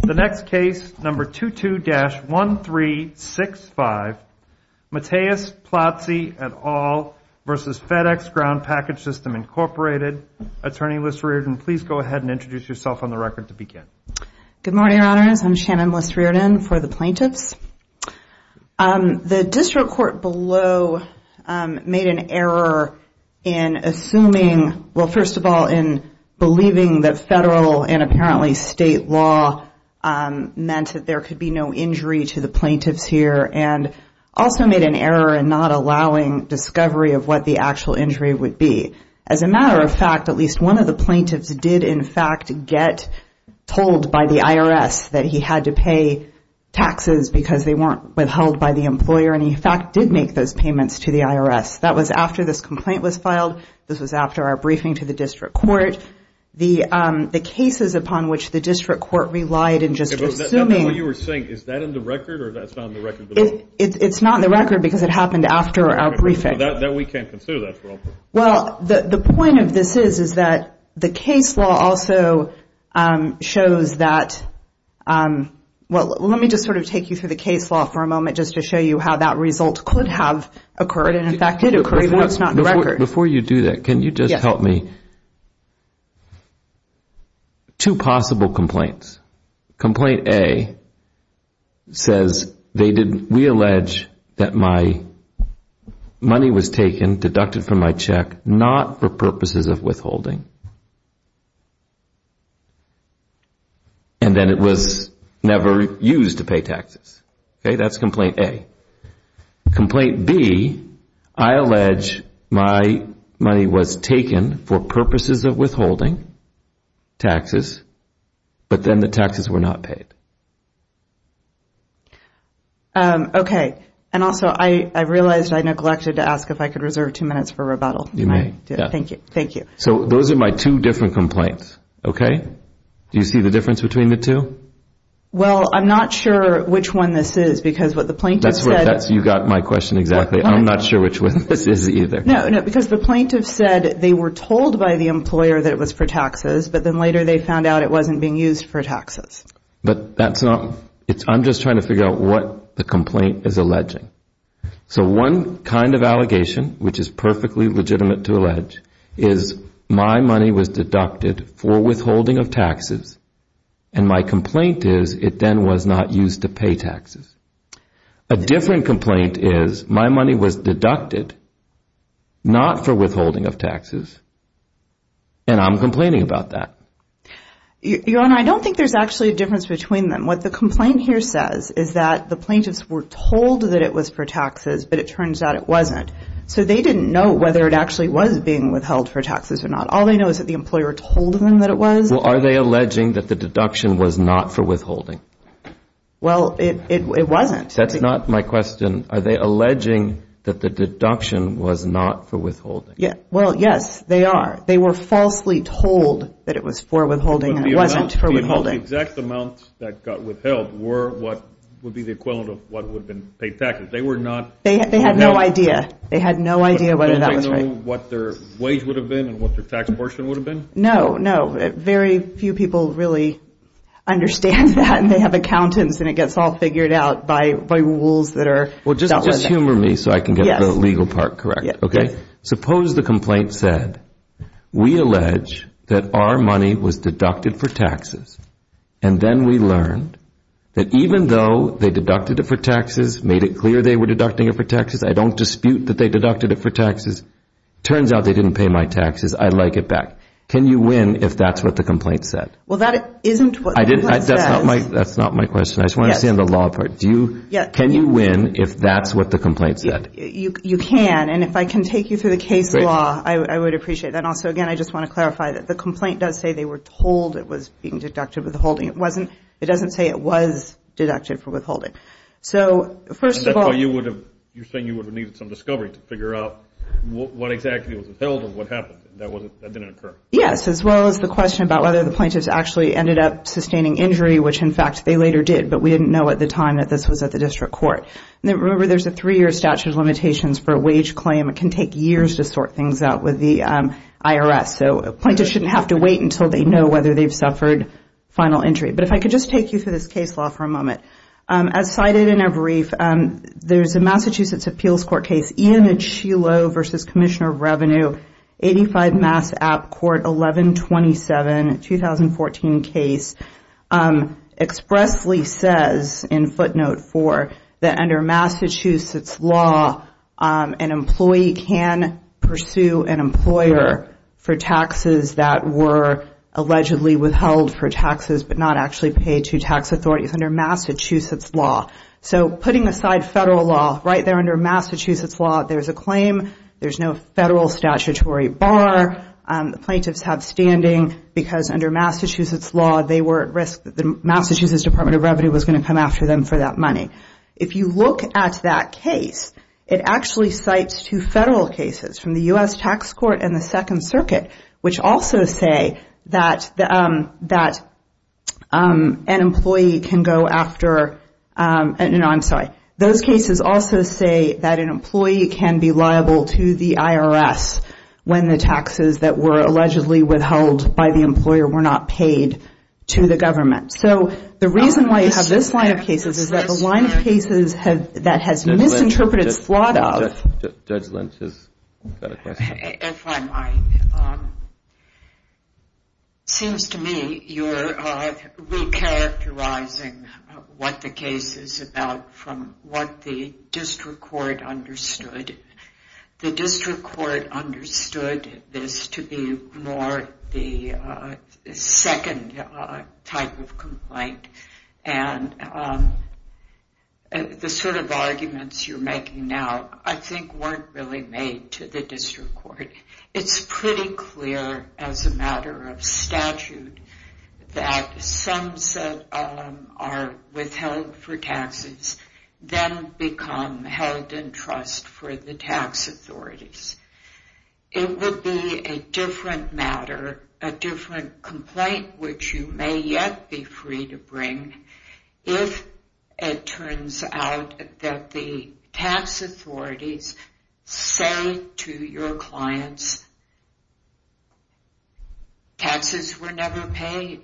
The next case, number 22-1365, Mattias Plazzi et al. versus FedEx Ground Package System, Incorporated. Attorney Liz Reardon, please go ahead and introduce yourself on the record to begin. Good morning, your honors. I'm Shannon Liz Reardon for the plaintiffs. The district court below made an error in assuming, well, first of all, in believing that federal and apparently state law meant that there could be no injury to the plaintiffs here, and also made an error in not allowing discovery of what the actual injury would be. As a matter of fact, at least one of the plaintiffs did in fact get told by the IRS that he had to pay taxes because they weren't withheld by the employer, and he in fact did make those payments to the IRS. That was after this complaint was filed. This was after our briefing to the district court. The cases upon which the district court relied in just assuming. And what you were saying, is that in the record, or that's not in the record at all? It's not in the record because it happened after our briefing. That we can't consider, that's wrong. Well, the point of this is is that the case law also shows that, well, let me just sort of take you through the case law for a moment just to show you how that result could have occurred, and in fact it occurred, but it's not in the record. Before you do that, can you just help me? Two possible complaints. Complaint A says, we allege that my money was taken, deducted from my check, not for purposes of withholding. And then it was never used to pay taxes. Okay, that's complaint A. Complaint B, I allege my money was taken for purposes of withholding taxes, but then the taxes were not paid. Okay, and also I realized I neglected to ask if I could reserve two minutes for rebuttal. You may. Thank you, thank you. So those are my two different complaints, okay? Do you see the difference between the two? Well, I'm not sure which one this is because what the plaintiff said. You got my question exactly. I'm not sure which one this is either. No, no, because the plaintiff said they were told by the employer that it was for taxes, but then later they found out it wasn't being used for taxes. But that's not, I'm just trying to figure out what the complaint is alleging. So one kind of allegation, which is perfectly legitimate to allege, is my money was deducted for withholding of taxes, and my complaint is it then was not used to pay taxes. A different complaint is my money was deducted not for withholding of taxes, and I'm complaining about that. Your Honor, I don't think there's actually a difference between them. What the complaint here says is that the plaintiffs were told that it was for taxes, but it turns out it wasn't. So they didn't know whether it actually was being withheld for taxes or not. All they know is that the employer told them that it was. Well, are they alleging that the deduction was not for withholding? Well, it wasn't. That's not my question. Are they alleging that the deduction was not for withholding? Well, yes, they are. They were falsely told that it was for withholding and it wasn't for withholding. But the exact amounts that got withheld were what would be the equivalent of what would have been paid taxes. They were not. They had no idea. They had no idea whether that was right. Did they know what their wage would have been and what their tax portion would have been? No, no. Very few people really understand that, and they have accountants and it gets all figured out by rules that are. Well, just humor me so I can get the legal part correct, okay? Suppose the complaint said, we allege that our money was deducted for taxes and then we learned that even though they deducted it for taxes, made it clear they were deducting it for taxes, I don't dispute that they deducted it for taxes. Turns out they didn't pay my taxes. I'd like it back. Can you win if that's what the complaint said? Well, that isn't what the complaint says. That's not my question. I just want to understand the law part. Can you win if that's what the complaint said? You can, and if I can take you through the case law, I would appreciate that. And also, again, I just want to clarify that the complaint does say they were told it was being deducted for withholding. It doesn't say it was deducted for withholding. So, first of all. You're saying you would have needed some discovery to figure out what exactly was upheld and what happened. That didn't occur. Yes, as well as the question about whether the plaintiffs actually ended up sustaining injury, which, in fact, they later did, but we didn't know at the time that this was at the district court. Remember, there's a three-year statute of limitations for a wage claim. It can take years to sort things out with the IRS. So, a plaintiff shouldn't have to wait until they know whether they've suffered final injury. But if I could just take you through this case law for a moment. As cited in our brief, there's a Massachusetts appeals court case, Ian Achilo v. Commissioner of Revenue, 85 Mass. App. Court 1127, 2014 case, expressly says in footnote four that under Massachusetts law, an employee can pursue an employer for taxes that were allegedly withheld for taxes but not actually paid to tax authorities under Massachusetts law. So, putting aside federal law, right there under Massachusetts law, there's a claim, there's no federal statutory bar. The plaintiffs have standing because under Massachusetts law, they were at risk that the Massachusetts Department of Revenue was gonna come after them for that money. If you look at that case, it actually cites two federal cases from the U.S. Tax Court and the Second Circuit, which also say that an employee can go after, no, I'm sorry, those cases also say that an employee can be liable to the IRS when the taxes that were allegedly withheld by the employer were not paid to the government. So, the reason why you have this line of cases is that the line of cases that has misinterpreted slot of. Judge Lynch has got a question. If I might. Seems to me you're recharacterizing what the case is about from what the district court understood. The district court understood this to be more the second type of complaint and the sort of arguments you're making now I think weren't really made to the district court. It's pretty clear as a matter of statute that sums that are withheld for taxes then become held in trust for the tax authorities. It would be a different matter, a different complaint, which you may yet be free to bring if it turns out that the tax authorities say to your clients taxes were never paid.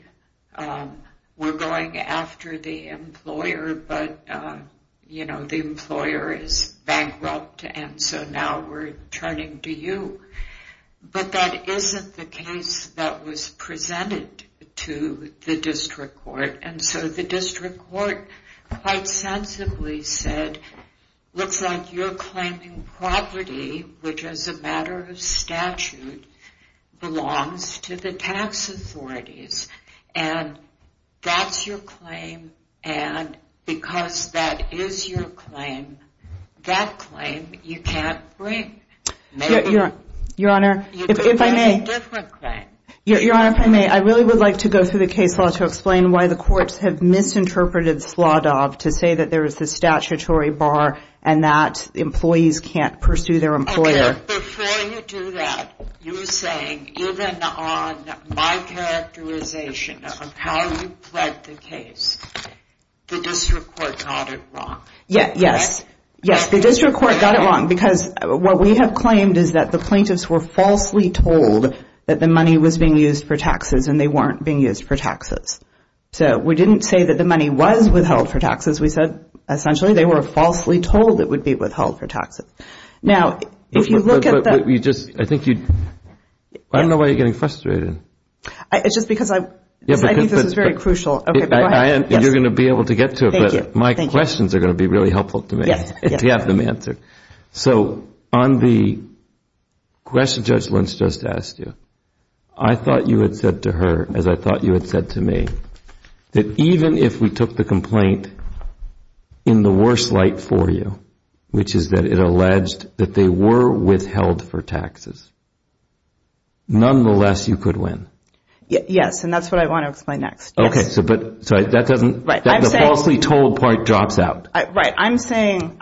We're going after the employer, but the employer is bankrupt and so now we're turning to you. But that isn't the case that was presented to the district court. And so the district court quite sensibly said looks like you're claiming property, which is a matter of statute, belongs to the tax authorities. And that's your claim and because that is your claim, that claim you can't bring. Maybe you could bring a different claim. Your Honor, if I may, I really would like to go through the case law to explain why the courts have misinterpreted Sladov to say that there is a statutory bar and that employees can't pursue their employer. Before you do that, you were saying even on my characterization of how you pled the case, the district court got it wrong. Yes, the district court got it wrong because what we have claimed is that the plaintiffs were falsely told that the money was being used for taxes and they weren't being used for taxes. So we didn't say that the money was withheld for taxes. We said essentially they were falsely told it would be withheld for taxes. Now, if you look at the- I think you, I don't know why you're getting frustrated. It's just because I think this is very crucial. Okay, go ahead. You're going to be able to get to it, but my questions are going to be really helpful to me to have them answered. So on the question Judge Lynch just asked you, I thought you had said to her as I thought you had said to me that even if we took the complaint in the worst light for you, which is that it alleged that they were withheld for taxes, nonetheless, you could win. Yes, and that's what I want to explain next. Okay, so that doesn't- Right, I'm saying- The falsely told part drops out. Right, I'm saying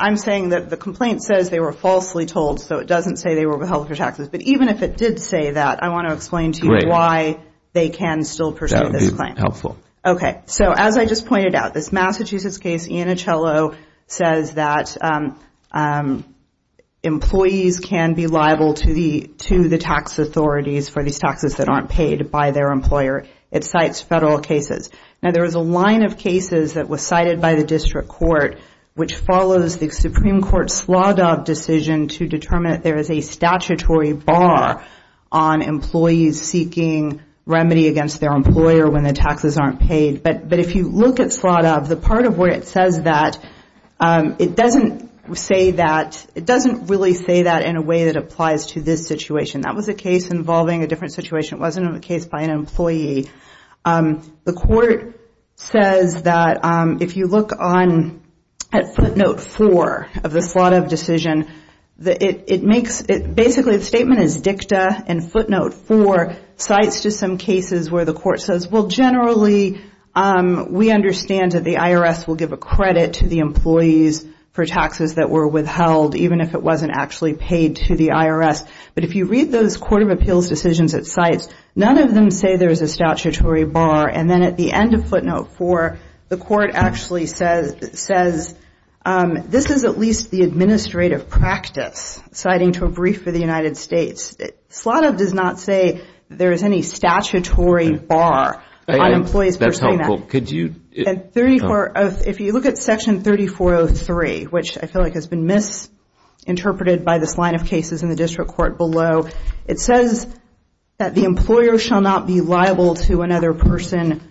that the complaint says they were falsely told, so it doesn't say they were withheld for taxes. But even if it did say that, I want to explain to you why they can still pursue this claim. That would be helpful. Okay, so as I just pointed out, this Massachusetts case, Iannicello, says that employees can be liable to the tax authorities for these taxes that aren't paid by their employer. It cites federal cases. Now, there was a line of cases that was cited by the district court, which follows the Supreme Court's Sladov decision to determine that there is a statutory bar on employees seeking remedy against their employer when their taxes aren't paid. But if you look at Sladov, the part of where it says that, it doesn't say that, it doesn't really say that in a way that applies to this situation. That was a case involving a different situation. It wasn't a case by an employee. The court says that if you look at footnote four of the Sladov decision, it makes, basically the statement is dicta and footnote four cites just some cases where the court says, well, generally, we understand that the IRS will give a credit to the employees for taxes that were withheld, even if it wasn't actually paid to the IRS. But if you read those court of appeals decisions at sites, none of them say there's a statutory bar. And then at the end of footnote four, the court actually says, this is at least the administrative practice citing to a brief for the United States. Sladov does not say there is any statutory bar on employees for payment. That's helpful. Could you? 34, if you look at section 3403, which I feel like has been misinterpreted by this line of cases in the district court below, it says that the employer shall not be liable to another person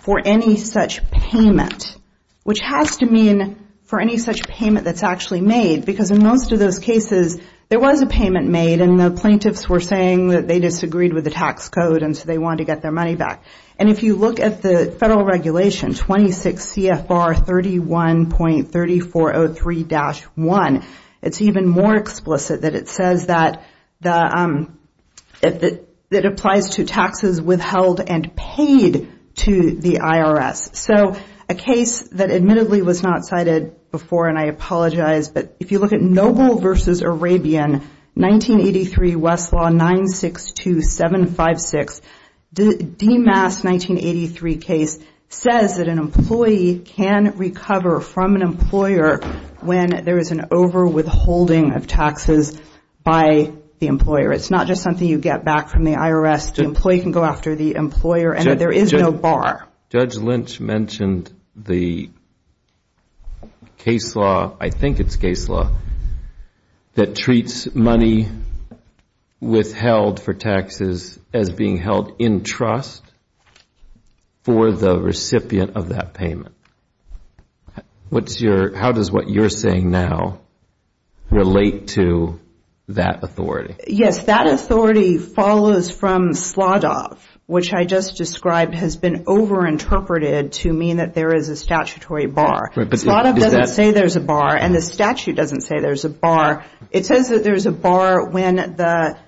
for any such payment, which has to mean for any such payment that's actually made, because in most of those cases, there was a payment made and the plaintiffs were saying that they disagreed with the tax code and so they wanted to get their money back. And if you look at the federal regulation, 26 CFR 31.3403-1, it's even more explicit that it says that it applies to taxes withheld and paid to the IRS. So a case that admittedly was not cited before, and I apologize, but if you look at Noble v. Arabian, 1983 Westlaw 962756, the DEMAS 1983 case says that an employee can recover from an employer when there is an over withholding of taxes by the employer. It's not just something you get back from the IRS. The employee can go after the employer and there is no bar. Judge Lynch mentioned the case law, I think it's case law, that treats money withheld for taxes as being held in trust for the recipient of that payment. How does what you're saying now relate to that authority? Yes, that authority follows from slaughter, which I just described has been over-interpreted to mean that there is a statutory bar. Slaughter doesn't say there's a bar and the statute doesn't say there's a bar. It says that there's a bar when the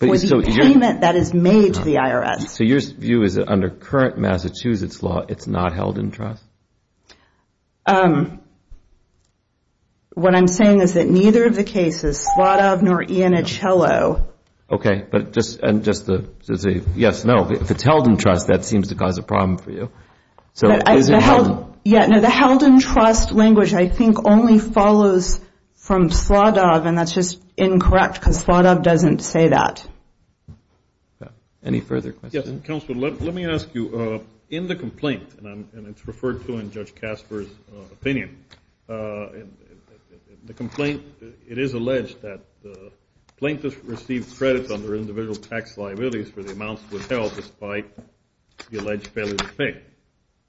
payment that is made to the IRS. So your view is that under current Massachusetts law, it's not held in trust? What I'm saying is that neither of the cases, Slaughter nor Iannicello. Okay, but just to say, yes, no, if it's held in trust, that seems to cause a problem for you. So is it held? Yeah, no, the held in trust language, I think only follows from Slaughter and that's just incorrect because Slaughter doesn't say that. Any further questions? Counselor, let me ask you, in the complaint, and it's referred to in Judge Casper's opinion, the complaint, it is alleged that plaintiffs received credits under individual tax liabilities for the amounts withheld despite the alleged failure to pay.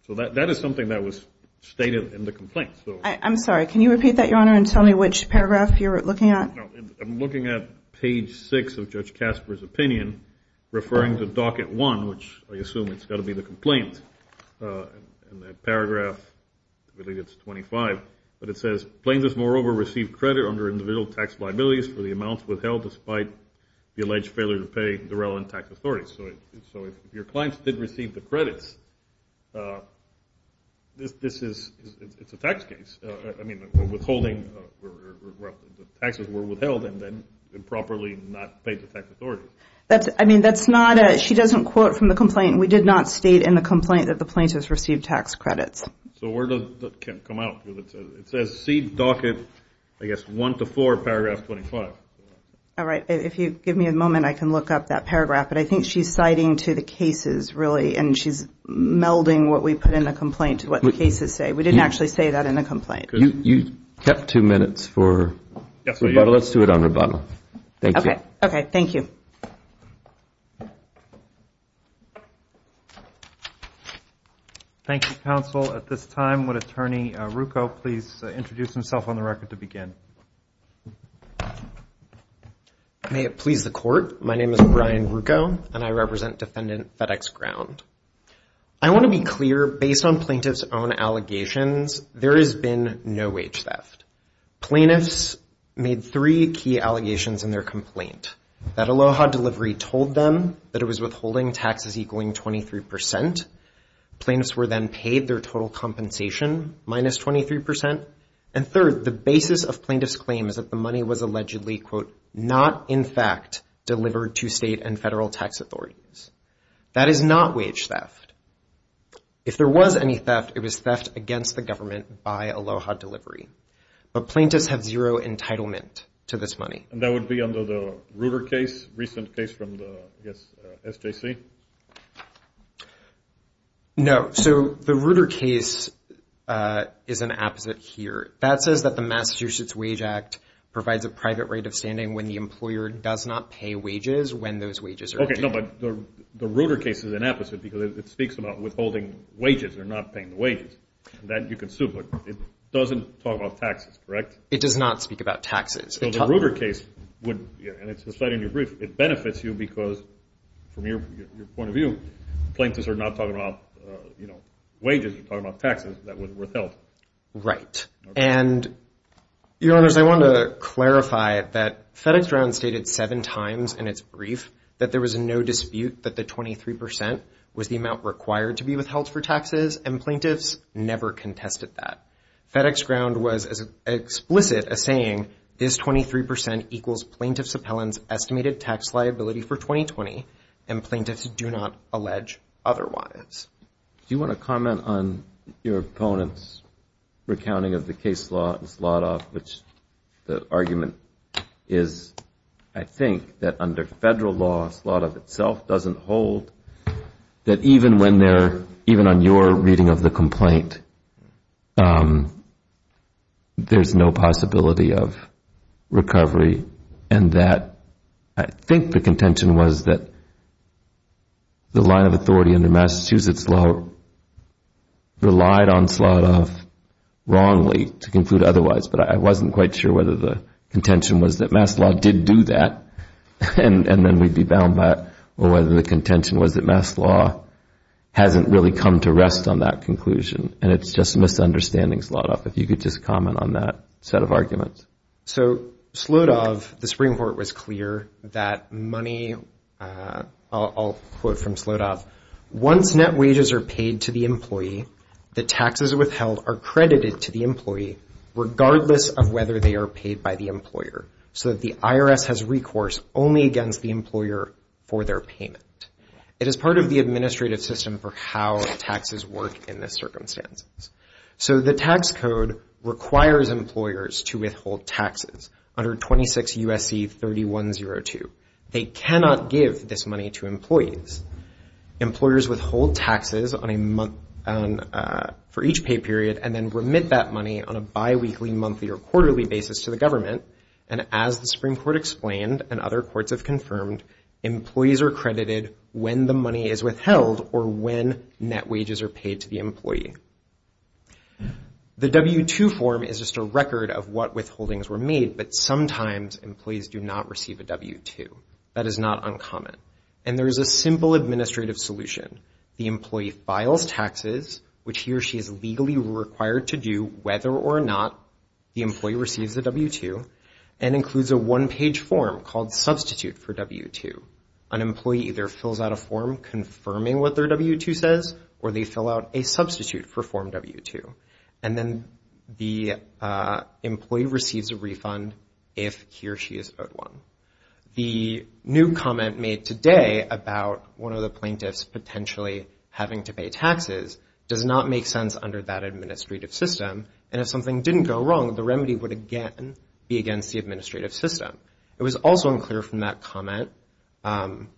So that is something that was stated in the complaint. I'm sorry, can you repeat that, Your Honor, and tell me which paragraph you're looking at? I'm looking at page six of Judge Casper's opinion referring to docket one, which I assume it's gotta be the complaint. And that paragraph, I believe it's 25, but it says, plaintiffs moreover received credit under individual tax liabilities for the amounts withheld despite the alleged failure to pay the relevant tax authorities. So if your clients did receive the credits, this is, it's a tax case. I mean, withholding, taxes were withheld and then improperly not paid the tax authority. I mean, that's not a, she doesn't quote from the complaint. We did not state in the complaint that the plaintiffs received tax credits. So where does that come out? It says, see docket, I guess, one to four, paragraph 25. All right, if you give me a moment, I can look up that paragraph. But I think she's citing to the cases, really, and she's melding what we put in the complaint to what the cases say. We didn't actually say that in the complaint. You kept two minutes for rebuttal. Let's do it on rebuttal. Thank you. Okay, okay, thank you. Thank you, counsel. At this time, would Attorney Rucco please introduce himself on the record to begin? May it please the court. My name is Brian Rucco and I represent Defendant FedEx Ground. I want to be clear. Based on plaintiff's own allegations, there has been no wage theft. Plaintiffs made three key allegations in their complaint. That Aloha delivery told them that it was withholding taxes equaling 23%. Plaintiffs were then paid their total compensation, minus 23%. And third, the basis of plaintiff's claim is that the money was allegedly, quote, not, in fact, delivered to state and federal tax authorities. That is not wage theft. If there was any theft, it was theft against the government by Aloha delivery. But plaintiffs have zero entitlement to this money. And that would be under the Reuter case, recent case from the, I guess, SJC? No. So the Reuter case is an apposite here. That says that the Massachusetts Wage Act provides a private rate of standing when the employer does not pay wages when those wages are paid. Okay, no, but the Reuter case is an opposite because it speaks about withholding wages or not paying the wages. That you can assume, but it doesn't talk about taxes, correct? It does not speak about taxes. So the Reuter case would, and it's the site in your brief, it benefits you because, from your point of view, plaintiffs are not talking about wages. They're talking about taxes that was withheld. Right. And, your honors, I want to clarify that FedEx Ground stated seven times in its brief that there was no dispute that the 23% was the amount required to be withheld for taxes, and plaintiffs never contested that. FedEx Ground was as explicit as saying, this 23% equals plaintiff's appellant's estimated tax liability for 2020, and plaintiffs do not allege otherwise. Do you want to comment on your opponent's recounting of the case law in Sladov, which the argument is, I think, that under federal law, Sladov itself doesn't hold, that even when they're, even on your reading of the complaint, there's no possibility of recovery, and that I think the contention was that the line of authority under Massachusetts law relied on Sladov wrongly to conclude otherwise, but I wasn't quite sure whether the contention was that Maslow did do that, and then we'd be bound by it, or whether the contention was that Maslow hasn't really come to rest on that conclusion. And it's just a misunderstanding, Sladov, if you could just comment on that set of arguments. So Sladov, the Supreme Court was clear that money, I'll quote from Sladov, once net wages are paid to the employee, the taxes withheld are credited to the employee regardless of whether they are paid by the employer, so that the IRS has recourse only against the employer for their payment. It is part of the administrative system for how taxes work in this circumstance. So the tax code requires employers to withhold taxes under 26 U.S.C. 3102. They cannot give this money to employees. Employers withhold taxes for each pay period and then remit that money on a biweekly, monthly, or quarterly basis to the government, and as the Supreme Court explained, and other courts have confirmed, employees are credited when the money is withheld or when net wages are paid to the employee. The W-2 form is just a record of what withholdings were made, but sometimes employees do not receive a W-2. That is not uncommon. And there is a simple administrative solution. The employee files taxes, which he or she is legally required to do, whether or not the employee receives a W-2, and includes a one-page form called Substitute for W-2. An employee either fills out a form confirming what their W-2 says, or they fill out a Substitute for Form W-2. And then the employee receives a refund if he or she is owed one. The new comment made today about one of the plaintiffs potentially having to pay taxes does not make sense under that administrative system, and if something didn't go wrong, It was also unclear from that comment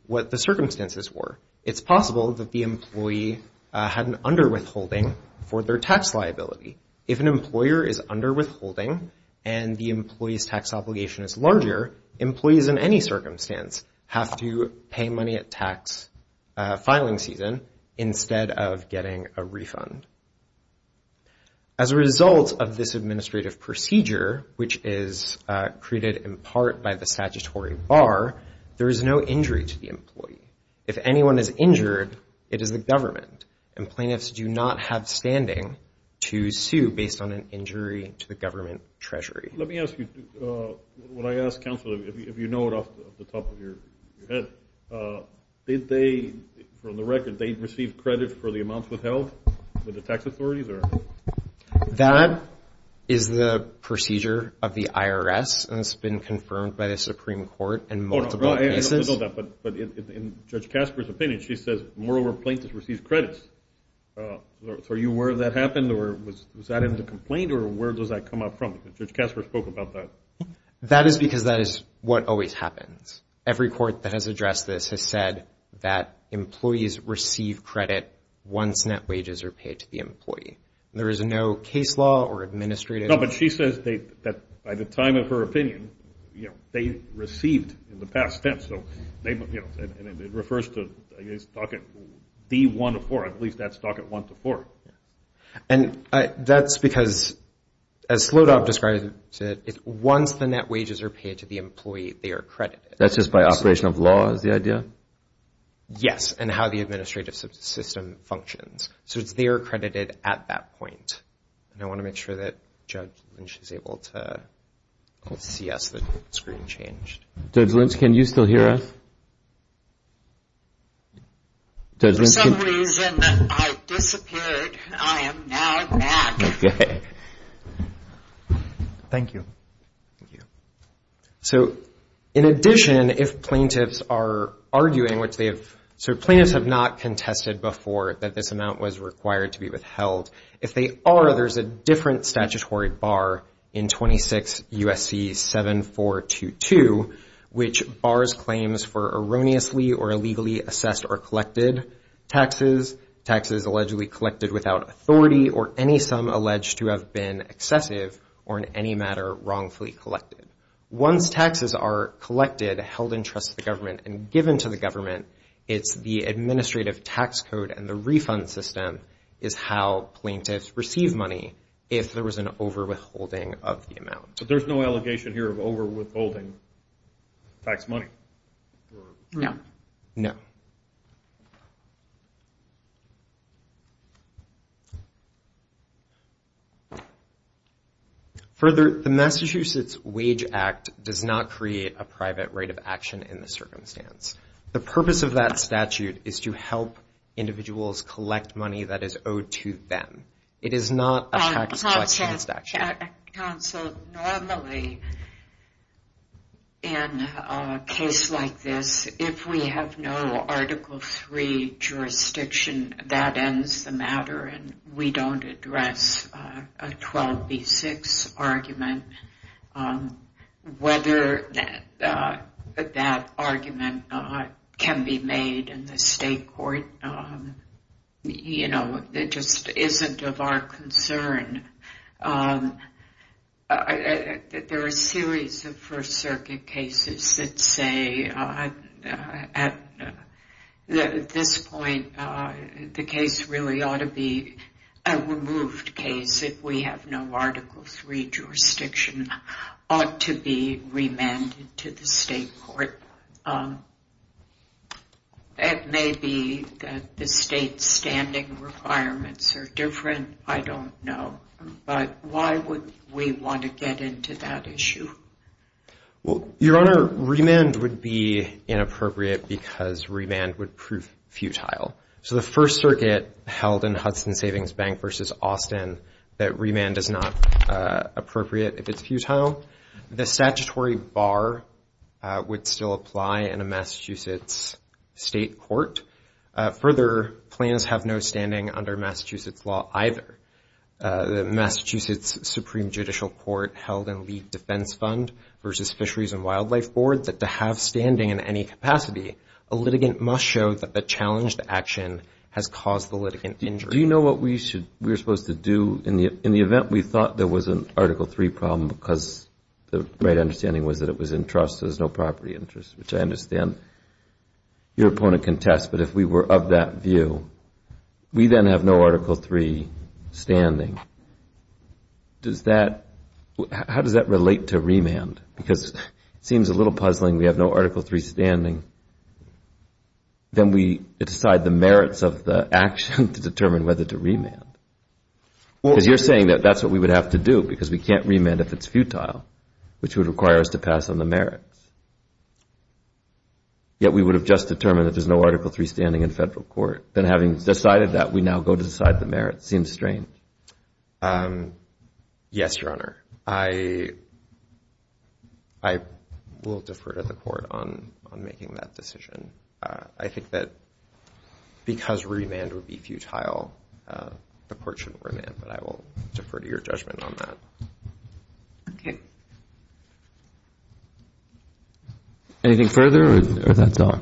what the circumstances were. It's possible that the employee had an underwithholding for their tax liability. If an employer is underwithholding and the employee's tax obligation is larger, employees in any circumstance have to pay money at tax filing season instead of getting a refund. As a result of this administrative procedure, which is created in part by the statutory bar, there is no injury to the employee. If anyone is injured, it is the government, and plaintiffs do not have standing to sue based on an injury to the government treasury. Let me ask you, what I ask counsel, if you know it off the top of your head, did they, from the record, they receive credit for the amounts withheld with the tax authorities, or? That is the procedure of the IRS, and it's been confirmed by the Supreme Court, and multiple cases. But in Judge Casper's opinion, she says moreover, plaintiffs receive credits. So are you aware of that happened, or was that in the complaint, or where does that come up from? Judge Casper spoke about that. That is because that is what always happens. Every court that has addressed this has said that employees receive credit once net wages are paid to the employee. There is no case law or administrative. No, but she says that by the time of her opinion, you know, they received in the past tense, so they, you know, and it refers to, I guess, docket D-1-4, at least that's docket one to four. And that's because, as Slodov described it, once the net wages are paid to the employee, they are credited. That's just by operation of law, is the idea? Yes, and how the administrative system functions. So it's, they are credited at that point. And I want to make sure that Judge Lynch is able to, let's see, yes, the screen changed. Judge Lynch, can you still hear us? Judge Lynch, can you? For some reason, I disappeared. I am now back. Okay. Thank you. Thank you. So in addition, if plaintiffs are arguing, which they have, so plaintiffs have not contested before that this amount was required to be withheld. If they are, there's a different statutory bar in 26 U.S.C. 7422, which bars claims for erroneously or illegally assessed or collected taxes, taxes allegedly collected without authority or any sum alleged to have been excessive or in any matter wrongfully collected. Once taxes are collected, held in trust of the government and given to the government, it's the administrative tax code and the refund system is how plaintiffs receive money if there was an overwithholding of the amount. So there's no allegation here of overwithholding tax money? No. No. Further, the Massachusetts Wage Act does not create a private right of action in this circumstance. The purpose of that statute is to help individuals collect money that is owed to them. It is not a tax collection statute. Council, normally, in a case like this, if we have no Article III jurisdiction, that ends the matter and we don't address a 12B6 argument, whether that argument can be made in the state court, you know, it just isn't of our concern. There are a series of First Circuit cases that say at this point, the case really ought to be a removed case if we have no Article III jurisdiction, ought to be remanded to the state court. It may be that the state's standing requirements are different, I don't know. But why would we want to get into that issue? Well, Your Honor, remand would be inappropriate because remand would prove futile. So the First Circuit held in Hudson Savings Bank versus Austin that remand is not appropriate if it's futile. The statutory bar would still apply in a Massachusetts state court. Further, plans have no standing under Massachusetts law either. The Massachusetts Supreme Judicial Court held in League Defense Fund versus Fisheries and Wildlife Board that to have standing in any capacity, a litigant must show that the challenge to action has caused the litigant injury. Do you know what we're supposed to do in the event we thought there was an Article III problem because the right understanding was that it was in trust, there's no property interest, which I understand your opponent can test. But if we were of that view, we then have no Article III standing. Does that, how does that relate to remand? Because it seems a little puzzling we have no Article III standing. Then we decide the merits of the action to determine whether to remand. Because you're saying that that's what we would have to do because we can't remand if it's futile, which would require us to pass on the merits. Yet we would have just determined that there's no Article III standing in federal court. Then having decided that, we now go to decide the merits. Seems strange. Yes, Your Honor. I will defer to the court on making that decision. I think that because remand would be futile, the court shouldn't remand, but I will defer to your judgment on that. Okay. Anything further or that's all?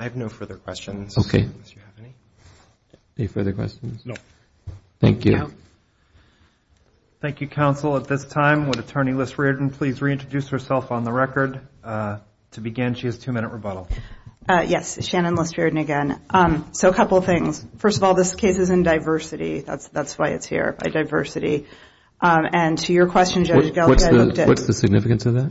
I have no further questions. Okay. Any further questions? No. Thank you. Thank you, counsel. At this time, would Attorney Liss-Riordan please reintroduce herself on the record? To begin, she has two-minute rebuttal. Yes, Shannon Liss-Riordan again. So a couple of things. First of all, this case is in diversity. That's why it's here, by diversity. And to your question, Judge Gelphi, I looked at- What's the significance of that?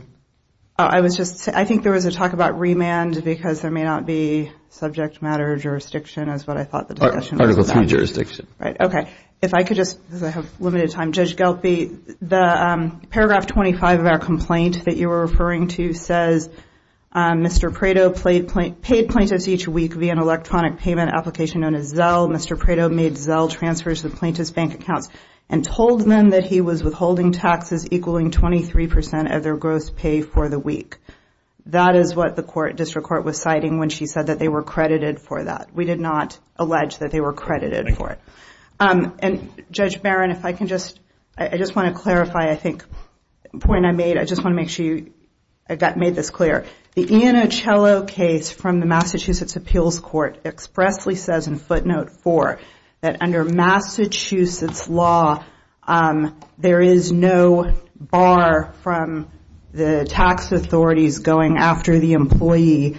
I was just, I think there was a talk about remand because there may not be subject matter jurisdiction as what I thought the discussion was about. Article III jurisdiction. Right, okay. If I could just, because I have limited time, Judge Gelphi, the paragraph 25 of our complaint that you were referring to says, Mr. Prado paid plaintiffs each week via an electronic payment application known as Zelle. Mr. Prado made Zelle transfers with plaintiff's bank accounts and told them that he was withholding taxes equaling 23% of their gross pay for the week. That is what the district court was citing when she said that they were credited for that. We did not allege that they were credited for it. And Judge Barron, if I can just, I just want to clarify, I think, a point I made, I just want to make sure you made this clear. The Iannicello case from the Massachusetts Appeals Court expressly says in footnote four that under Massachusetts law, there is no bar from the tax authorities going after the employee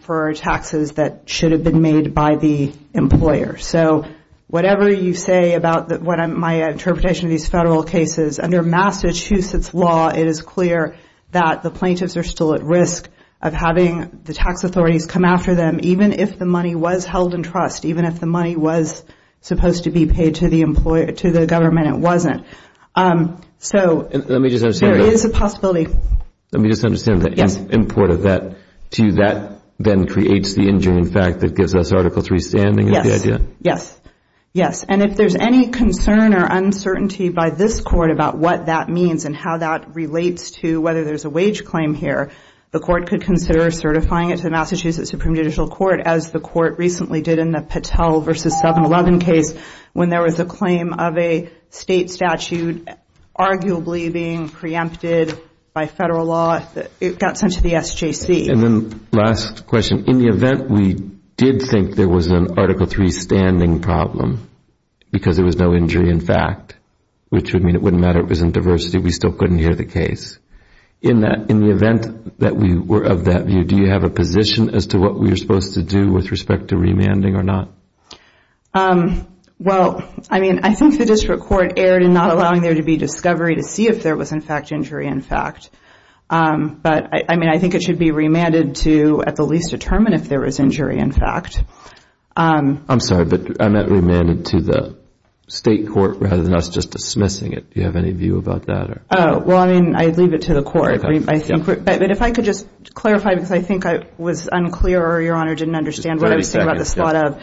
for taxes that should have been made by the employer. So whatever you say about my interpretation of these federal cases, under Massachusetts law, it is clear that the plaintiffs are still at risk of having the tax authorities come after them even if the money was held in trust, even if the money was supposed to be paid to the government, it wasn't. So there is a possibility. Let me just understand the import of that. To you, that then creates the injuring fact that gives us Article III standing, is the idea? Yes, yes. And if there's any concern or uncertainty by this court about what that means and how that relates to whether there's a wage claim here, the court could consider certifying it to the Massachusetts Supreme Judicial Court as the court recently did in the Patel versus 7-11 case when there was a claim of a state statute arguably being preempted by federal law. It got sent to the SJC. And then last question, in the event we did think there was an Article III standing problem because there was no injury in fact, which would mean it wouldn't matter if it was in diversity, we still couldn't hear the case. In the event that we were of that view, do you have a position as to what we were supposed to do with respect to remanding or not? Well, I mean, I think the district court erred in not allowing there to be discovery to see if there was in fact injury in fact. But I mean, I think it should be remanded to at the least determine if there was injury in fact. I'm sorry, but I meant remanded to the state court rather than us just dismissing it. Do you have any view about that? Oh, well, I mean, I'd leave it to the court. I think, but if I could just clarify because I think I was unclear or Your Honor didn't understand what I was saying about the slot of.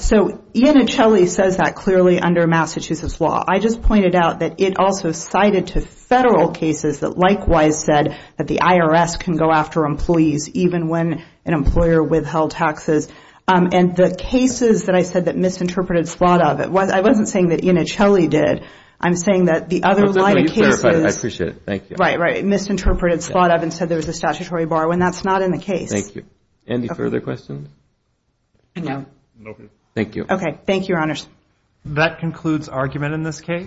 So Iannicelli says that clearly under Massachusetts law. I just pointed out that it also cited to federal cases that likewise said that the IRS can go after employees even when an employer withheld taxes. And the cases that I said that misinterpreted slot of it, I wasn't saying that Iannicelli did. I'm saying that the other line of cases. I appreciate it, thank you. Right, right, misinterpreted slot of and said there was a statutory bar when that's not in the case. Thank you. Any further questions? No. Thank you. Okay, thank you, Your Honors. That concludes argument in this case.